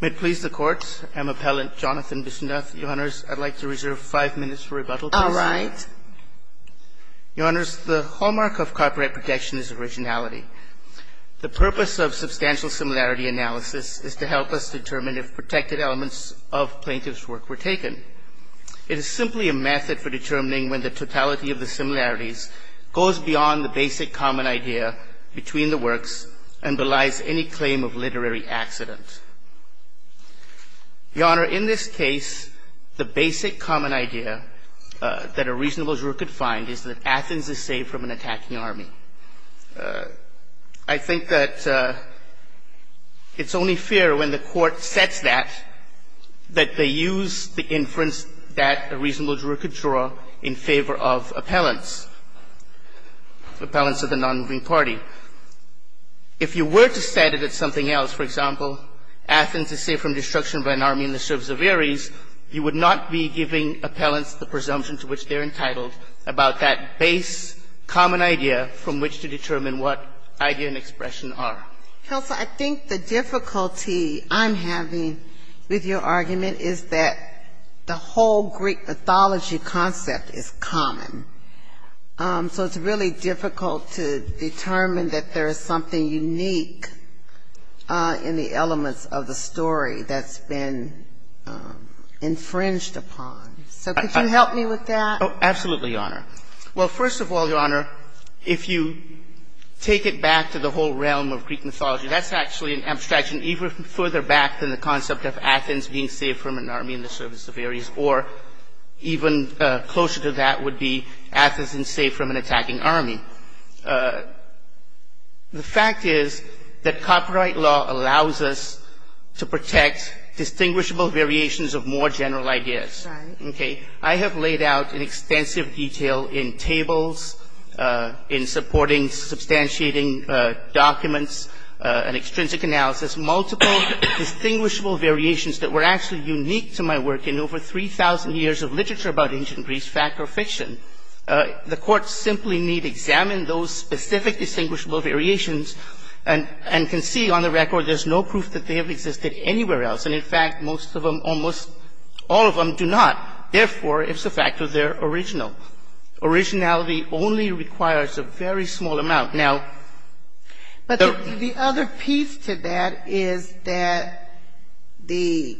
May it please the Court, I'm Appellant Jonathan Bissoon-Dath. Your Honours, I'd like to reserve five minutes for rebuttal, please. All right. Your Honours, the hallmark of copyright protection is originality. The purpose of substantial similarity analysis is to help us determine if protected elements of plaintiff's work were taken. It is simply a method for determining when the totality of the similarities goes beyond the basic common idea between the works and belies any claim of literary accident. Your Honour, in this case, the basic common idea that a reasonable juror could find is that Athens is safe from an attacking army. I think that it's only fair when the Court sets that, that they use the inference that a reasonable juror could draw in favor of appellants, appellants of the nonmoving party. If you were to set it at something else, for example, Athens is safe from destruction by an army in the service of Ares, you would not be giving appellants the presumption to which they're entitled about that base common idea from which to determine what idea and expression are. Counsel, I think the difficulty I'm having with your argument is that the whole Greek mythology concept is common. So it's really difficult to determine that there is something unique in the elements of the story that's been infringed upon. So could you help me with that? Oh, absolutely, Your Honour. Well, first of all, Your Honour, if you take it back to the whole realm of Greek mythology, that's actually an abstraction even further back than the concept of Athens being safe from an army in the service of Ares. Or even closer to that would be Athens is safe from an attacking army. The fact is that copyright law allows us to protect distinguishable variations of more general ideas. Okay. I have laid out in extensive detail in tables, in supporting substantiating documents and extrinsic analysis, multiple distinguishable variations that were actually unique to my work in over 3,000 years of literature about ancient Greece, fact or fiction. The Court simply need examine those specific distinguishable variations and can see on the record there's no proof that they have existed anywhere else. And, in fact, most of them, almost all of them do not. Therefore, it's a fact that they're original. Originality only requires a very small amount. But the other piece to that is that the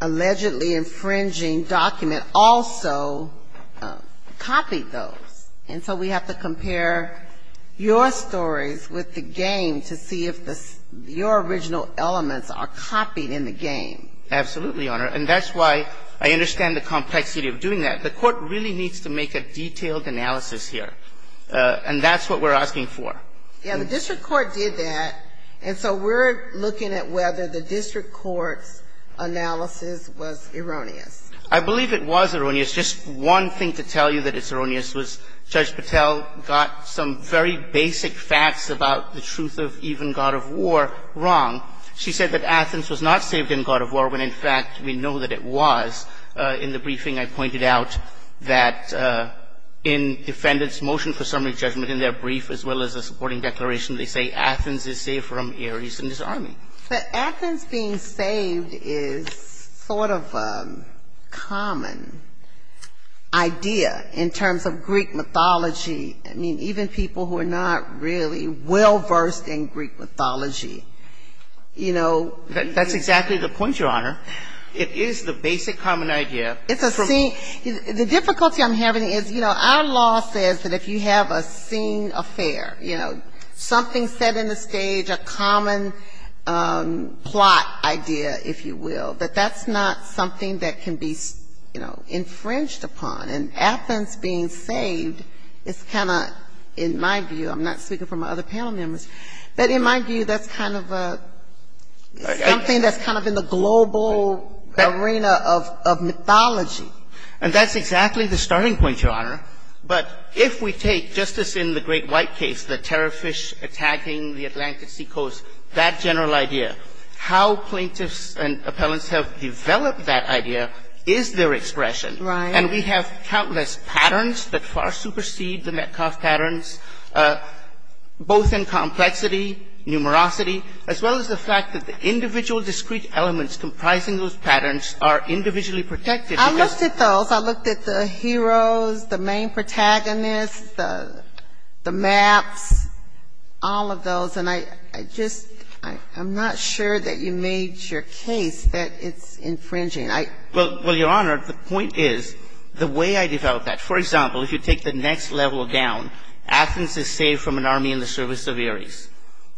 allegedly infringing document also copied those. And so we have to compare your stories with the game to see if your original elements are copied in the game. Absolutely, Your Honour. And that's why I understand the complexity of doing that. The Court really needs to make a detailed analysis here. And that's what we're asking for. Yeah, the district court did that. And so we're looking at whether the district court's analysis was erroneous. I believe it was erroneous. Just one thing to tell you that it's erroneous was Judge Patel got some very basic facts about the truth of even God of War wrong. She said that Athens was not saved in God of War when, in fact, we know that it was. In the briefing, I pointed out that in defendants' motion for summary judgment in their brief, as well as a supporting declaration, they say Athens is saved from Ares and his army. But Athens being saved is sort of a common idea in terms of Greek mythology. I mean, even people who are not really well-versed in Greek mythology, you know. That's exactly the point, Your Honour. It is the basic common idea. It's a scene. The difficulty I'm having is, you know, our law says that if you have a scene affair, you know, something set in the stage, a common plot idea, if you will, that that's not something that can be, you know, infringed upon. And Athens being saved is kind of, in my view, I'm not speaking for my other panel members, but in my view, that's kind of something that's kind of in the global arena of mythology. And that's exactly the starting point, Your Honour. But if we take, just as in the great white case, the terror fish attacking the Atlantic seacoast, that general idea, how plaintiffs and appellants have developed that idea is their expression. Right. And we have countless patterns that far supersede the Metcalfe patterns, both in complexity, numerosity, as well as the fact that the individual discrete elements comprising those patterns are individually protected. I looked at those. I looked at the heroes, the main protagonists, the maps, all of those. And I just, I'm not sure that you made your case that it's infringing. Well, Your Honour, the point is the way I developed that, for example, if you take the next level down, Athens is saved from an army in the service of Ares.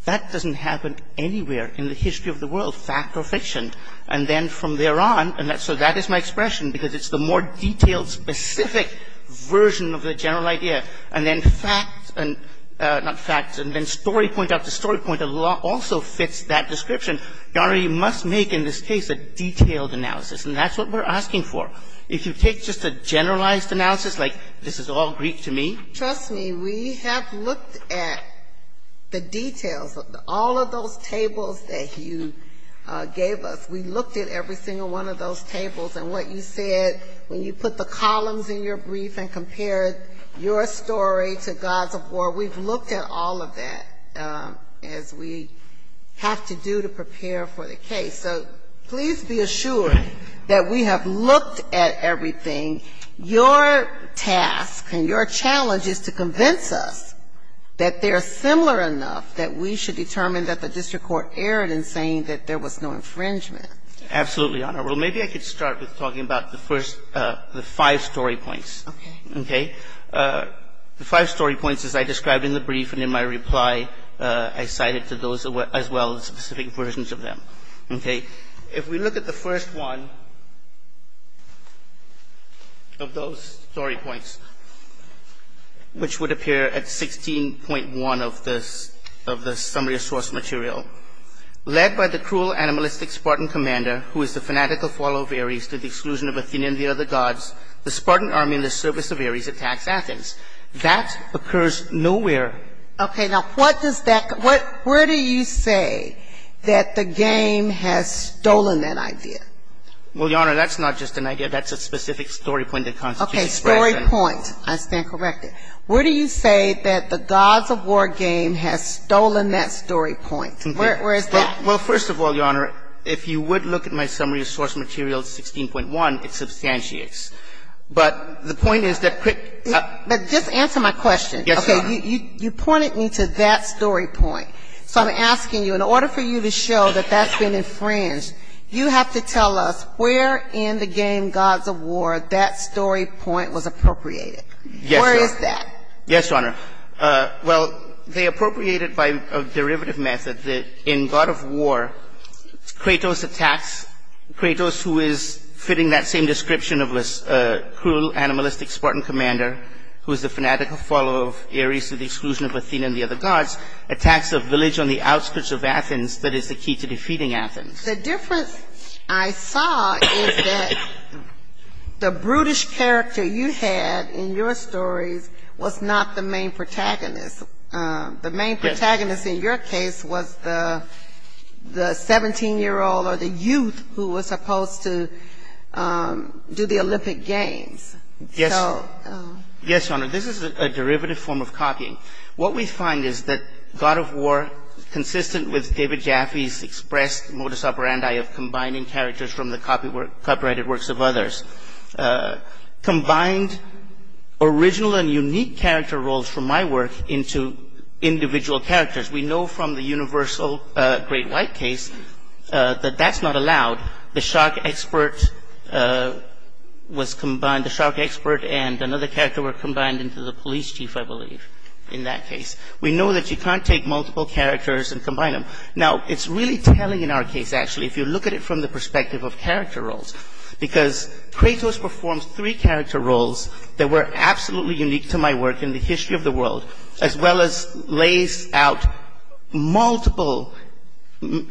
That doesn't happen anywhere in the history of the world, fact or fiction. And then from there on, so that is my expression, because it's the more detailed, specific version of the general idea. And then fact, not fact, and then story point after story point also fits that description. Your Honour, you must make, in this case, a detailed analysis. And that's what we're asking for. If you take just a generalized analysis, like this is all Greek to me. Trust me, we have looked at the details of all of those tables that you gave us. We looked at every single one of those tables. And what you said when you put the columns in your brief and compared your story to gods of war, we've looked at all of that as we have to do to prepare for the case. So please be assured that we have looked at everything. Your task and your challenge is to convince us that they are similar enough that we should determine that the district court erred in saying that there was no infringement. Absolutely, Your Honour. Well, maybe I could start with talking about the first, the five story points. Okay. The five story points, as I described in the brief and in my reply, I cited to those as well as specific versions of them. Okay. If we look at the first one of those story points, which would appear at 16.1 of the summary of source material. Okay, now what does that, where do you say that the game has stolen that idea? Well, Your Honour, that's not just an idea. That's a specific story point that constitutes expression. Okay, story point. I stand corrected. Where do you say that the gods of war game has stolen that story point? Where is that? Well, first of all, Your Honour, if you would look at my summary of source material 16.1, it substantiates. But the point is that quick. But just answer my question. Yes, Your Honour. Okay, you pointed me to that story point. So I'm asking you, in order for you to show that that's been infringed, you have to tell us where in the game gods of war that story point was appropriated. Yes, Your Honour. Where is that? Yes, Your Honour. Well, they appropriated by a derivative method that in god of war, Kratos attacks, Kratos who is fitting that same description of this cruel animalistic Spartan commander, who is the fanatical follower of Ares to the exclusion of Athena and the other gods, attacks a village on the outskirts of Athens that is the key to defeating Athens. The difference I saw is that the brutish character you had in your stories was not the main protagonist. The main protagonist in your case was the 17-year-old or the youth who was supposed to do the Olympic games. Yes, Your Honour. What we find is that god of war, consistent with David Jaffe's expressed modus operandi of combining characters from the copyrighted works of others, combined original and unique character roles from my work into individual characters. We know from the universal great white case that that's not allowed. The shock expert and another character were combined into the police chief, I believe, in that case. We know that you can't take multiple characters and combine them. Now, it's really telling in our case, actually, if you look at it from the perspective of character roles, because Kratos performs three character roles that were absolutely unique to my work in the history of the world, as well as lays out multiple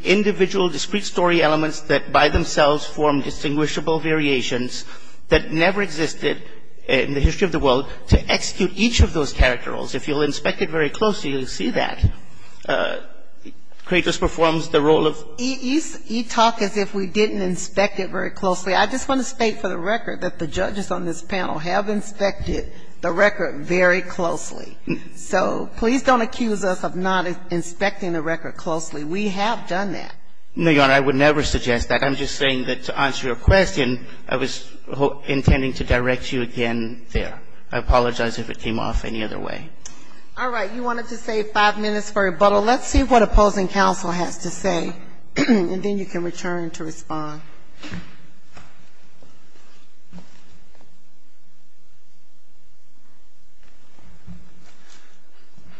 individual discrete story elements that by themselves form distinguishable variations that never existed in the history of the world to execute each of those character roles. If you'll inspect it very closely, you'll see that. Kratos performs the role of... You talk as if we didn't inspect it very closely. I just want to state for the record that the judges on this panel have inspected the record very closely. So please don't accuse us of not inspecting the record closely. We have done that. No, Your Honor, I would never suggest that. I'm just saying that to answer your question, I was intending to direct you again there. I apologize if it came off any other way. All right. You wanted to save five minutes for rebuttal. Well, let's see what opposing counsel has to say, and then you can return to respond.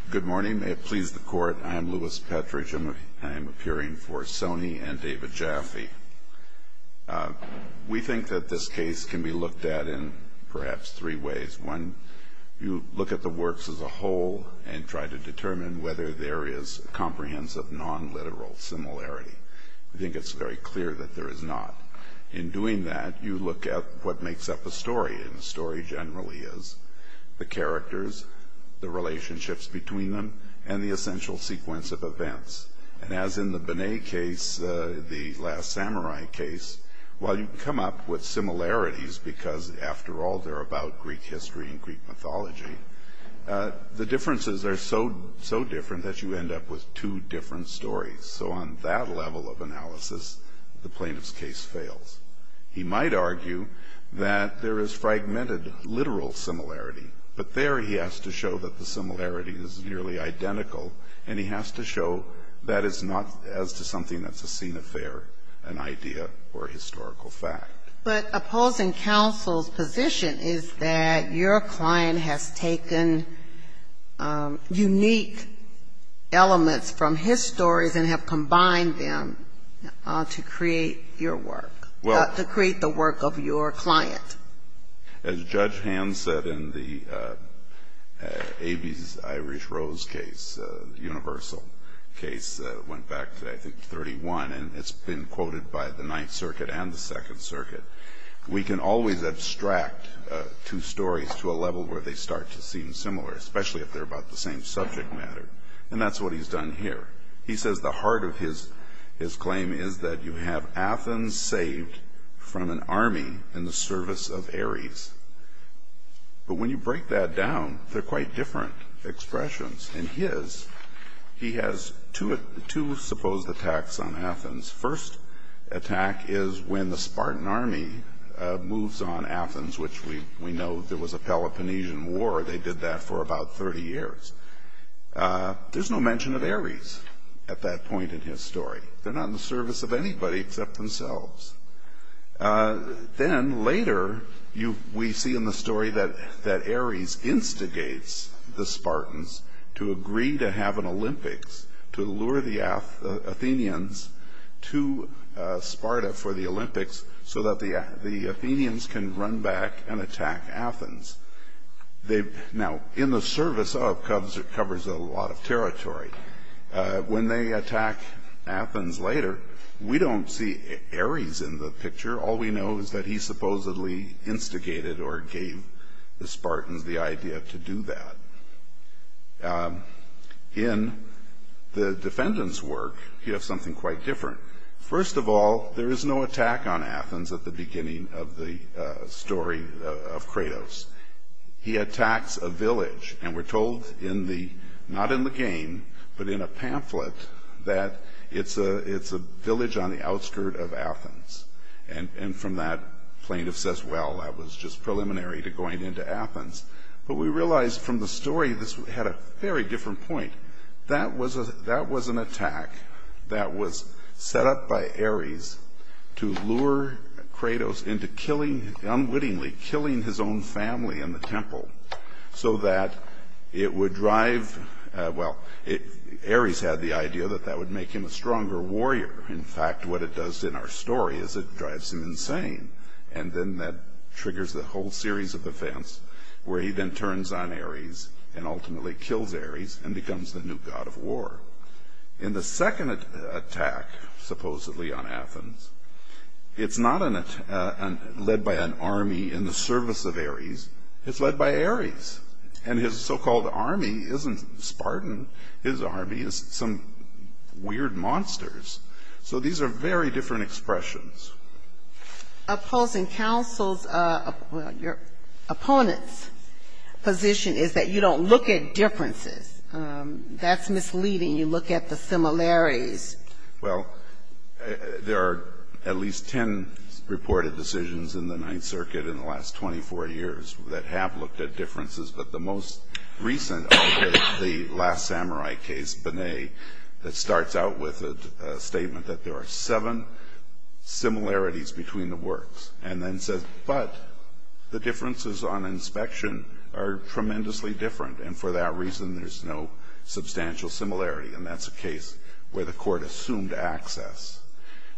Good morning. May it please the Court, I am Louis Petrich, and I am appearing for Sonny and David Jaffe. We think that this case can be looked at in perhaps three ways. One, you look at the works as a whole and try to determine whether there is comprehensive nonliteral similarity. I think it's very clear that there is not. In doing that, you look at what makes up a story, and the story generally is the characters, the relationships between them, and the essential sequence of events. And as in the Benet case, the last samurai case, while you can come up with similarities because, after all, they're about Greek history and Greek mythology, the differences are so different that you end up with two different stories. So on that level of analysis, the plaintiff's case fails. He might argue that there is fragmented literal similarity, but there he has to show that the similarity is nearly identical, and he has to show that it's not as to something that's a scene affair, an idea, or a historical fact. But opposing counsel's position is that your client has taken unique elements from his stories and have combined them to create your work, to create the work of your client. As Judge Hand said in the Avis Irish Rose case, universal case, went back to, I think, 31, and it's been quoted by the Ninth Circuit and the Second Circuit, we can always abstract two stories to a level where they start to seem similar, especially if they're about the same subject matter. And that's what he's done here. He says the heart of his claim is that you have Athens saved from an army in the service of Ares. But when you break that down, they're quite different expressions. In his, he has two supposed attacks on Athens. First attack is when the Spartan army moves on Athens, which we know there was a Peloponnesian war. They did that for about 30 years. There's no mention of Ares at that point in his story. They're not in the service of anybody except themselves. Then later, we see in the story that Ares instigates the Spartans to agree to have an Olympics to lure the Athenians to Sparta for the Olympics so that the Athenians can run back and attack Athens. Now in the service of covers a lot of territory. When they attack Athens later, we don't see Ares in the picture. All we know is that he supposedly instigated or gave the Spartans the idea to do that. In the defendant's work, you have something quite different. First of all, there is no attack on Athens at the beginning of the story of Kratos. He attacks a village, and we're told in the, not in the game, but in a pamphlet, that it's a village on the outskirt of Athens. And from that, plaintiff says, well, that was just preliminary to going into Athens. But we realize from the story this had a very different point. That was an attack that was set up by Ares to lure Kratos into unwittingly killing his own family in the temple so that it would drive, well, Ares had the idea that that would make him a stronger warrior. In fact, what it does in our story is it drives him insane. And then that triggers the whole series of events where he then turns on Ares and ultimately kills Ares and becomes the new god of war. In the second attack supposedly on Athens, it's not led by an army in the service of Ares. It's led by Ares. And his so-called army isn't Spartan. His army is some weird monsters. So these are very different expressions. Opposing counsel's, well, your opponent's position is that you don't look at differences. That's misleading. You look at the similarities. Well, there are at least ten reported decisions in the Ninth Circuit in the last 24 years that have looked at differences. But the most recent of them is the last samurai case, Bonnet, that starts out with a statement that there are seven similarities between the works, and then says, but the differences on inspection are tremendously different, and for that reason there's no substantial similarity. And that's a case where the court assumed access.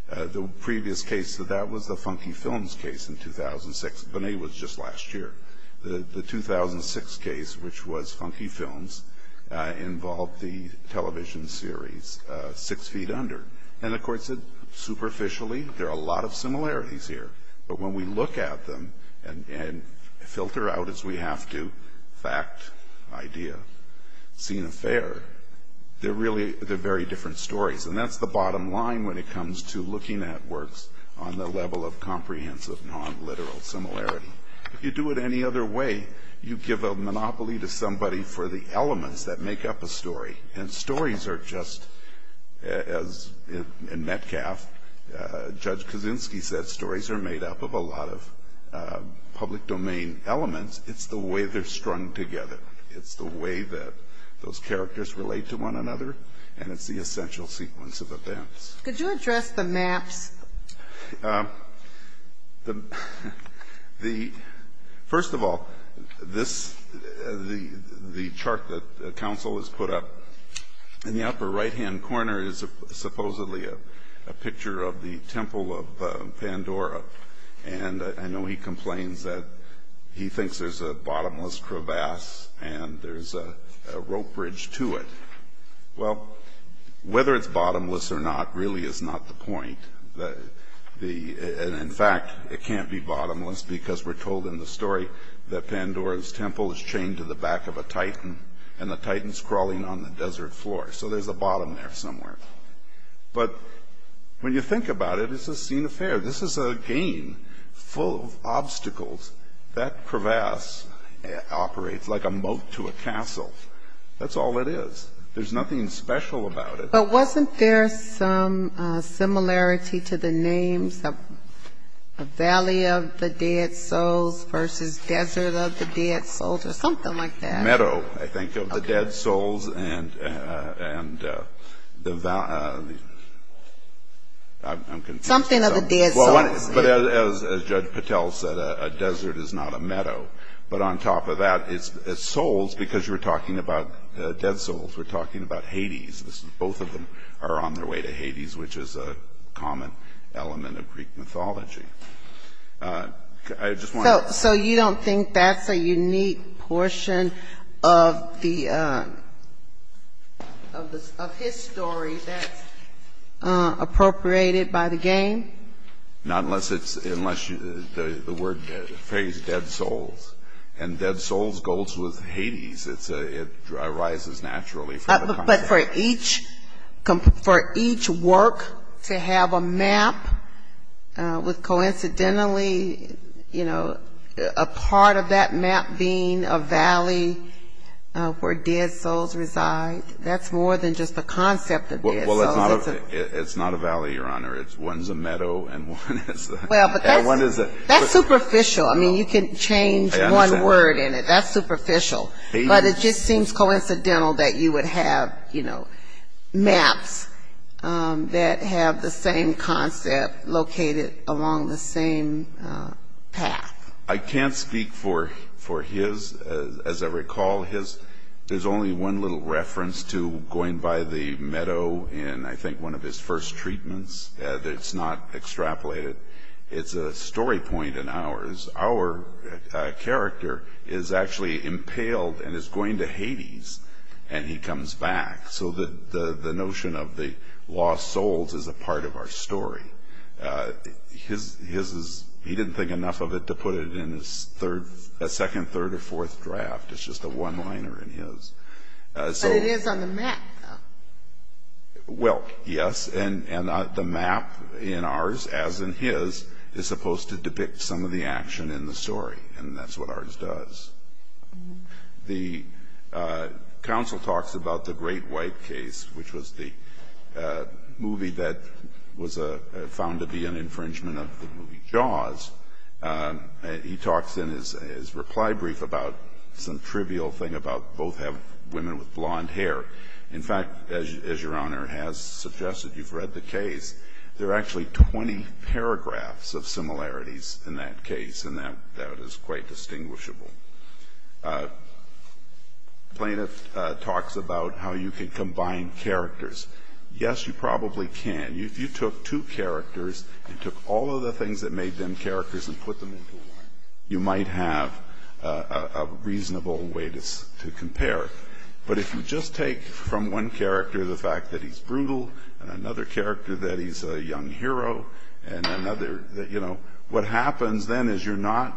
The previous case, that was the Funky Films case in 2006. Bonnet was just last year. The 2006 case, which was Funky Films, involved the television series Six Feet Under. And the court said superficially there are a lot of similarities here, but when we look at them and filter out, as we have to, fact, idea, scene affair, they're very different stories. And that's the bottom line when it comes to looking at works on the level of comprehensive, non-literal similarity. If you do it any other way, you give a monopoly to somebody for the elements that make up a story. And stories are just, as in Metcalf, Judge Kaczynski said, stories are made up of a lot of public domain elements. It's the way they're strung together. It's the way that those characters relate to one another, and it's the essential sequence of events. Could you address the maps? First of all, the chart that counsel has put up in the upper right-hand corner is supposedly a picture of the Temple of Pandora. And I know he complains that he thinks there's a bottomless crevasse and there's a rope bridge to it. Well, whether it's bottomless or not really is not the point. In fact, it can't be bottomless because we're told in the story that Pandora's Temple is chained to the back of a titan and the titan's crawling on the desert floor. So there's a bottom there somewhere. But when you think about it, it's a scene affair. This is a game full of obstacles. That crevasse operates like a moat to a castle. That's all it is. There's nothing special about it. But wasn't there some similarity to the names of Valley of the Dead Souls versus Desert of the Dead Souls or something like that? Meadow, I think, of the dead souls and the valley. I'm confused. Something of the dead souls. So you don't think that's a unique portion of his story that's appropriated by the game? Not unless the word phrase dead souls. And dead souls goes with Hades. It arises naturally from the concept. But for each work to have a map with coincidentally, you know, a part of that map being a valley where dead souls reside, that's more than just a concept of dead souls. Well, it's not a valley, Your Honor. One's a meadow and one is a... Well, but that's superficial. I mean, you can change one word in it. That's superficial. But it just seems coincidental that you would have, you know, maps that have the same concept located along the same path. I can't speak for his. I know in, I think, one of his first treatments that it's not extrapolated. It's a story point in ours. Our character is actually impaled and is going to Hades, and he comes back. So the notion of the lost souls is a part of our story. His is he didn't think enough of it to put it in a second, third, or fourth draft. It's just a one-liner in his. But it is on the map, though. Well, yes, and the map in ours, as in his, is supposed to depict some of the action in the story, and that's what ours does. The counsel talks about the Great White Case, which was the movie that was found to be an infringement of the movie Jaws. He talks in his reply brief about some trivial thing about both have women with blonde hair. In fact, as Your Honor has suggested, you've read the case. There are actually 20 paragraphs of similarities in that case, and that is quite distinguishable. Plaintiff talks about how you can combine characters. Yes, you probably can. If you took two characters and took all of the things that made them characters and put them into one, you might have a reasonable way to compare. But if you just take from one character the fact that he's brutal and another character that he's a young hero, what happens then is you're not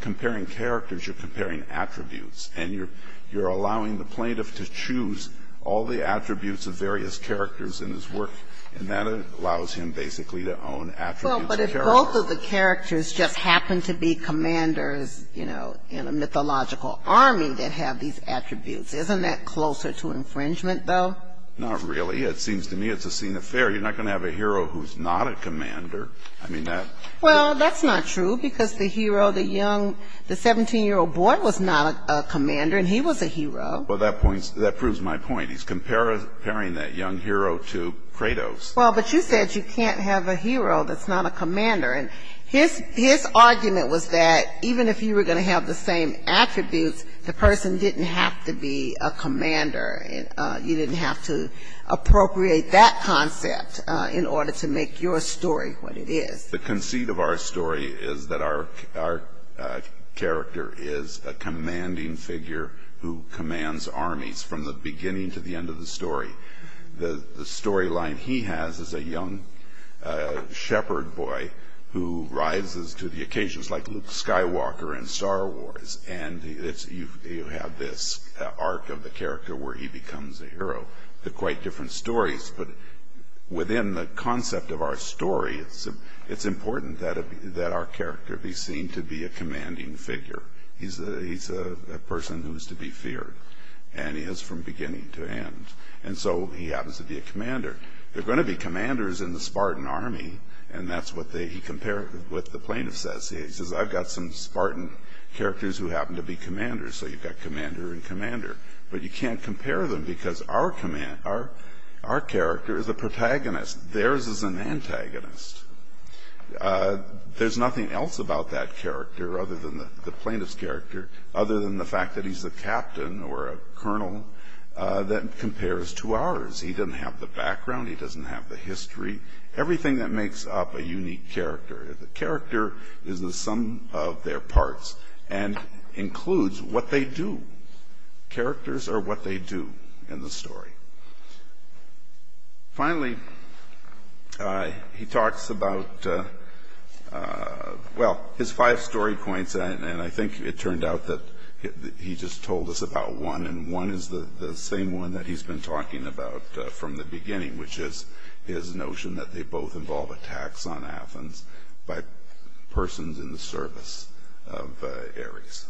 comparing characters, you're comparing attributes, and you're allowing the plaintiff to choose all the attributes of various characters in his work, and that allows him basically to own attributes of characters. Well, but if both of the characters just happen to be commanders, you know, in a mythological army that have these attributes, isn't that closer to infringement, though? Not really. It seems to me it's a scene of fear. You're not going to have a hero who's not a commander. I mean, that's... Well, that proves my point. He's comparing that young hero to Kratos. Well, but you said you can't have a hero that's not a commander, and his argument was that even if you were going to have the same attributes, the person didn't have to be a commander. You didn't have to appropriate that concept in order to make your story what it is. The conceit of our story is that our character is a commanding figure who commands armies from the beginning to the end of the story. The storyline he has is a young shepherd boy who rises to the occasions like Luke Skywalker in Star Wars, and you have this arc of the character where he becomes a hero. They're quite different stories, but within the concept of our story, it's important that our character be seen to be a commanding figure. He's a person who is to be feared, and he is from beginning to end, and so he happens to be a commander. There are going to be commanders in the Spartan army, and that's what he compared with the plaintiff's essay. He says, I've got some Spartan characters who happen to be commanders, so you've got commander and commander, but you can't compare them because our character is a protagonist. Theirs is an antagonist. There's nothing else about that character other than the plaintiff's character, other than the fact that he's a captain or a colonel that compares to ours. He doesn't have the background. He doesn't have the history, everything that makes up a unique character. The character is the sum of their parts and includes what they do. Characters are what they do in the story. Finally, he talks about, well, his five story points, and I think it turned out that he just told us about one, and one is the same one that he's been talking about from the beginning, which is his notion that they both involve attacks on Athens by persons in the service of Ares.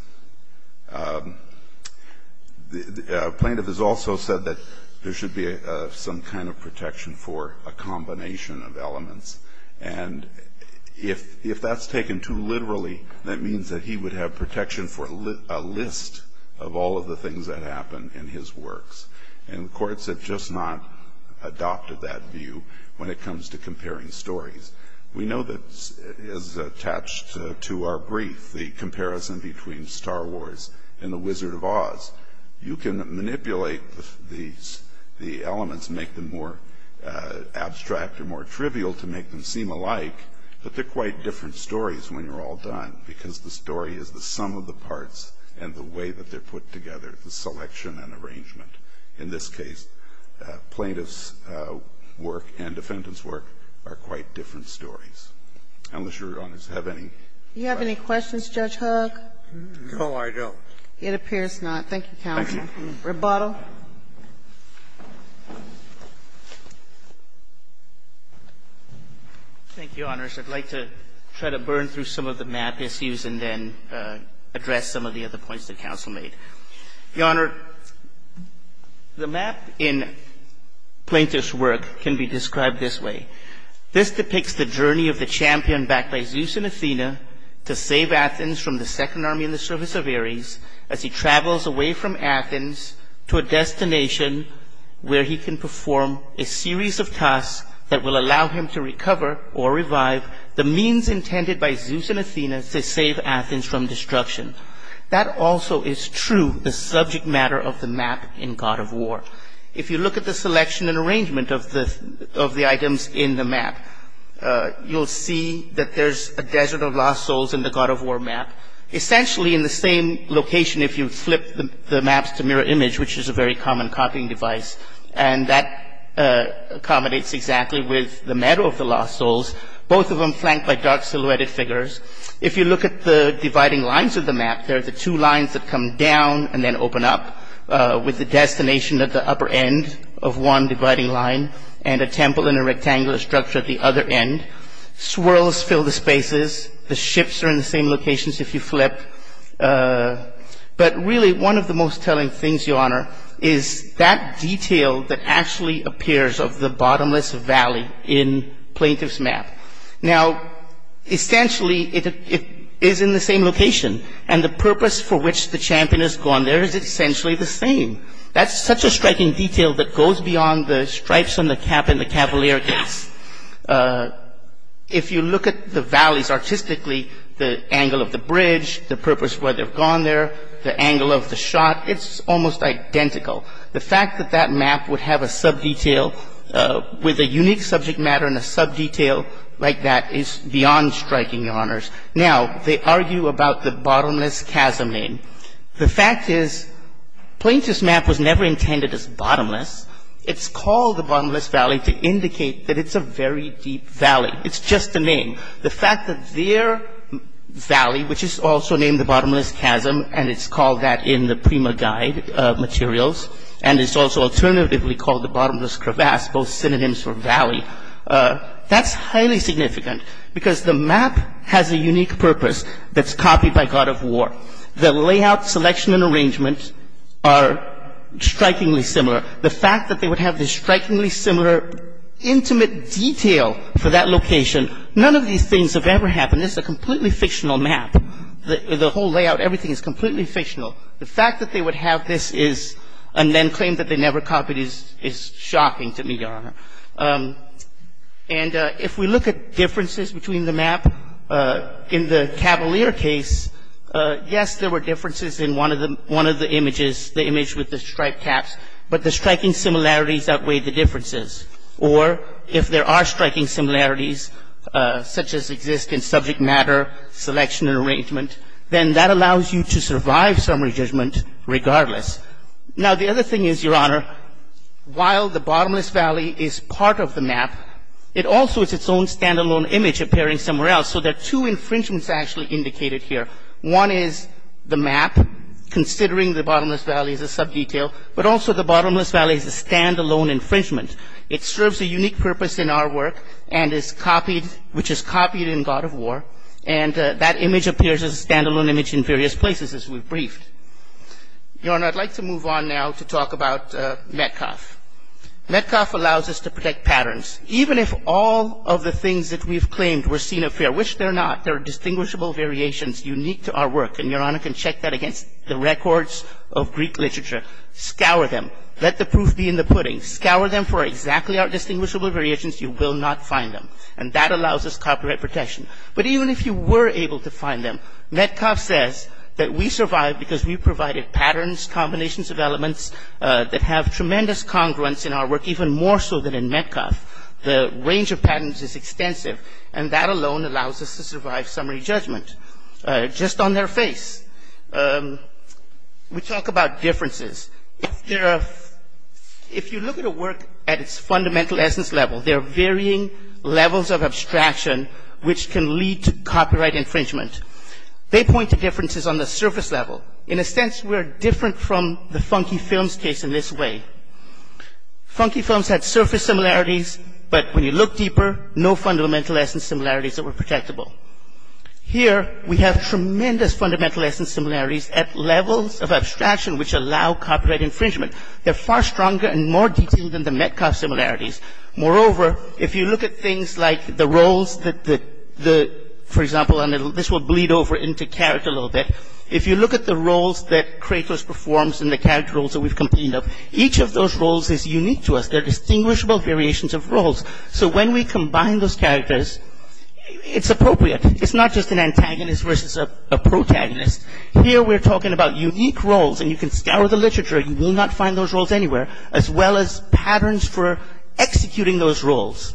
The plaintiff has also said that there should be some kind of protection for a combination of elements, and if that's taken too literally, that means that he would have protection for a list of all of the things that happen in his works, and courts have just not adopted that view when it comes to comparing stories. We know that as attached to our brief, the comparison between Star Wars and The Wizard of Oz. You can manipulate the elements and make them more abstract or more trivial to make them seem alike, but they're quite different stories when you're all done because the story is the sum of the parts and the way that they're put together, the selection and arrangement. In this case, plaintiff's work and defendant's work are quite different stories. Unless your honors have any questions. Judge Huck? No, I don't. It appears not. Thank you, counsel. Rebuttal. Thank you, Your Honors. I'd like to try to burn through some of the map issues and then address some of the other points that counsel made. Your Honor, the map in plaintiff's work can be described this way. This depicts the journey of the champion backed by Zeus and Athena to save Athens from the second army in the service of Ares as he travels away from Athens to a destination where he can perform a series of tasks that will allow him to recover or revive the means intended by Zeus and Athena to save Athens from destruction. That also is true, the subject matter of the map in God of War. If you look at the selection and arrangement of the items in the map, you'll see that there's a desert of lost souls in the God of War map. Essentially, in the same location, if you flip the maps to mirror image, which is a very common copying device, and that accommodates exactly with the meadow of the lost souls, both of them flanked by dark silhouetted figures. If you look at the dividing lines of the map, there are the two lines that come down and then open up with the destination at the upper end of one dividing line and a temple in a rectangular structure at the other end. Swirls fill the spaces. The ships are in the same locations if you flip. But really, one of the most telling things, Your Honor, is that detail that actually appears of the bottomless valley in plaintiff's map. Now, essentially, it is in the same location, and the purpose for which the champion has gone there is essentially the same. That's such a striking detail that goes beyond the stripes on the cap in the Cavalier case. If you look at the valleys artistically, the angle of the bridge, the purpose where they've gone there, the angle of the shot, it's almost identical. The fact that that map would have a sub-detail with a unique subject matter and a sub-detail like that is beyond striking, Your Honors. Now, they argue about the bottomless chasm name. The fact is plaintiff's map was never intended as bottomless. It's called the bottomless valley to indicate that it's a very deep valley. It's just a name. The fact that their valley, which is also named the bottomless chasm, and it's called that in the Prima Guide materials, and it's also alternatively called the bottomless crevasse, both synonyms for valley, that's highly significant because the map has a unique purpose that's copied by God of War. The layout, selection, and arrangement are strikingly similar. The fact that they would have this strikingly similar intimate detail for that location, none of these things have ever happened. This is a completely fictional map. The whole layout, everything is completely fictional. The fact that they would have this and then claim that they never copied is shocking to me, Your Honor. And if we look at differences between the map in the Cavalier case, yes, there were differences in one of the images, the image with the striped caps, but the striking similarities outweighed the differences. Or if there are striking similarities, such as exist in subject matter, selection, and arrangement, then that allows you to survive summary judgment regardless. Now, the other thing is, Your Honor, while the bottomless valley is part of the map, it also is its own stand-alone image appearing somewhere else. So there are two infringements actually indicated here. One is the map, considering the bottomless valley as a sub-detail, but also the bottomless valley is a stand-alone infringement. It serves a unique purpose in our work and is copied, which is copied in God of War, and that image appears as a stand-alone image in various places, as we've briefed. Your Honor, I'd like to move on now to talk about Metcalf. Metcalf allows us to predict patterns. Even if all of the things that we've claimed were seen up here, which they're not, they're distinguishable variations unique to our work, and Your Honor can check that against the records of Greek literature. Scour them. Let the proof be in the pudding. Scour them for exactly our distinguishable variations. You will not find them. And that allows us copyright protection. But even if you were able to find them, Metcalf says that we survived because we provided patterns, combinations of elements that have tremendous congruence in our work, even more so than in Metcalf. The range of patterns is extensive, and that alone allows us to survive summary judgment just on their face. We talk about differences. If you look at a work at its fundamental essence level, there are varying levels of abstraction which can lead to copyright infringement. They point to differences on the surface level. In a sense, we're different from the Funky Films case in this way. Funky Films had surface similarities, but when you look deeper, no fundamental essence similarities that were protectable. Here, we have tremendous fundamental essence similarities at levels of abstraction which allow copyright infringement. They're far stronger and more detailed than the Metcalf similarities. Moreover, if you look at things like the roles that, for example, and this will bleed over into character a little bit, if you look at the roles that Kratos performs and the character roles that we've completed, each of those roles is unique to us. They're distinguishable variations of roles. So when we combine those characters, it's appropriate. It's not just an antagonist versus a protagonist. Here, we're talking about unique roles, and you can scour the literature. You will not find those roles anywhere, as well as patterns for executing those roles.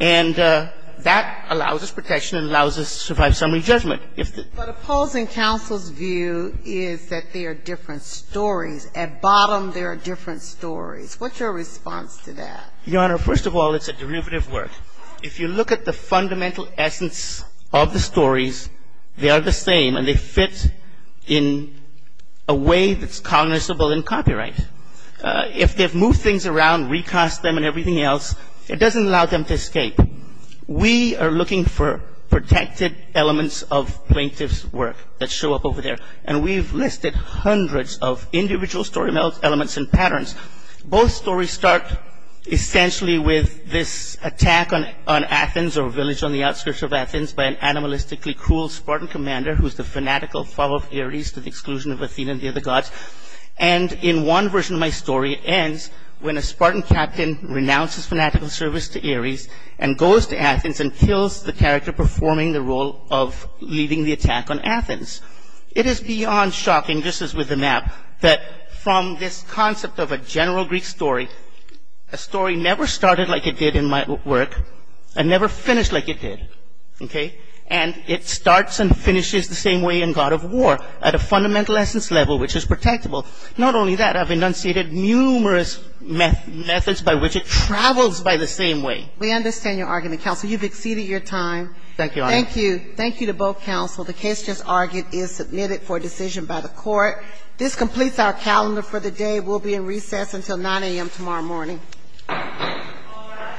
And that allows us protection and allows us to survive summary judgment. If the ---- But opposing counsel's view is that there are different stories. At bottom, there are different stories. What's your response to that? Your Honor, first of all, it's a derivative work. If you look at the fundamental essence of the stories, they are the same, and they fit in a way that's cognizable in copyright. If they've moved things around, recast them and everything else, it doesn't allow them to escape. We are looking for protected elements of plaintiff's work that show up over there, and we've listed hundreds of individual story elements and patterns. Both stories start essentially with this attack on Athens or village on the outskirts of Athens by an animalistically cruel Spartan commander who's the fanatical follower of Ares to the exclusion of Athena and the other gods. And in one version of my story, it ends when a Spartan captain renounces fanatical service to Ares and goes to Athens and kills the character performing the role of leading the attack on Athens. It is beyond shocking, just as with the map, that from this concept of a general Greek story, a story never started like it did in my work and never finished like it did. Okay? And it starts and finishes the same way in God of War at a fundamental essence level which is protectable. Not only that, I've enunciated numerous methods by which it travels by the same way. We understand your argument, counsel. You've exceeded your time. Thank you, Your Honor. Thank you. Thank you to both counsel. The case just argued is submitted for decision by the court. This completes our calendar for the day. We'll be in recess until 9 a.m. tomorrow morning. All rise.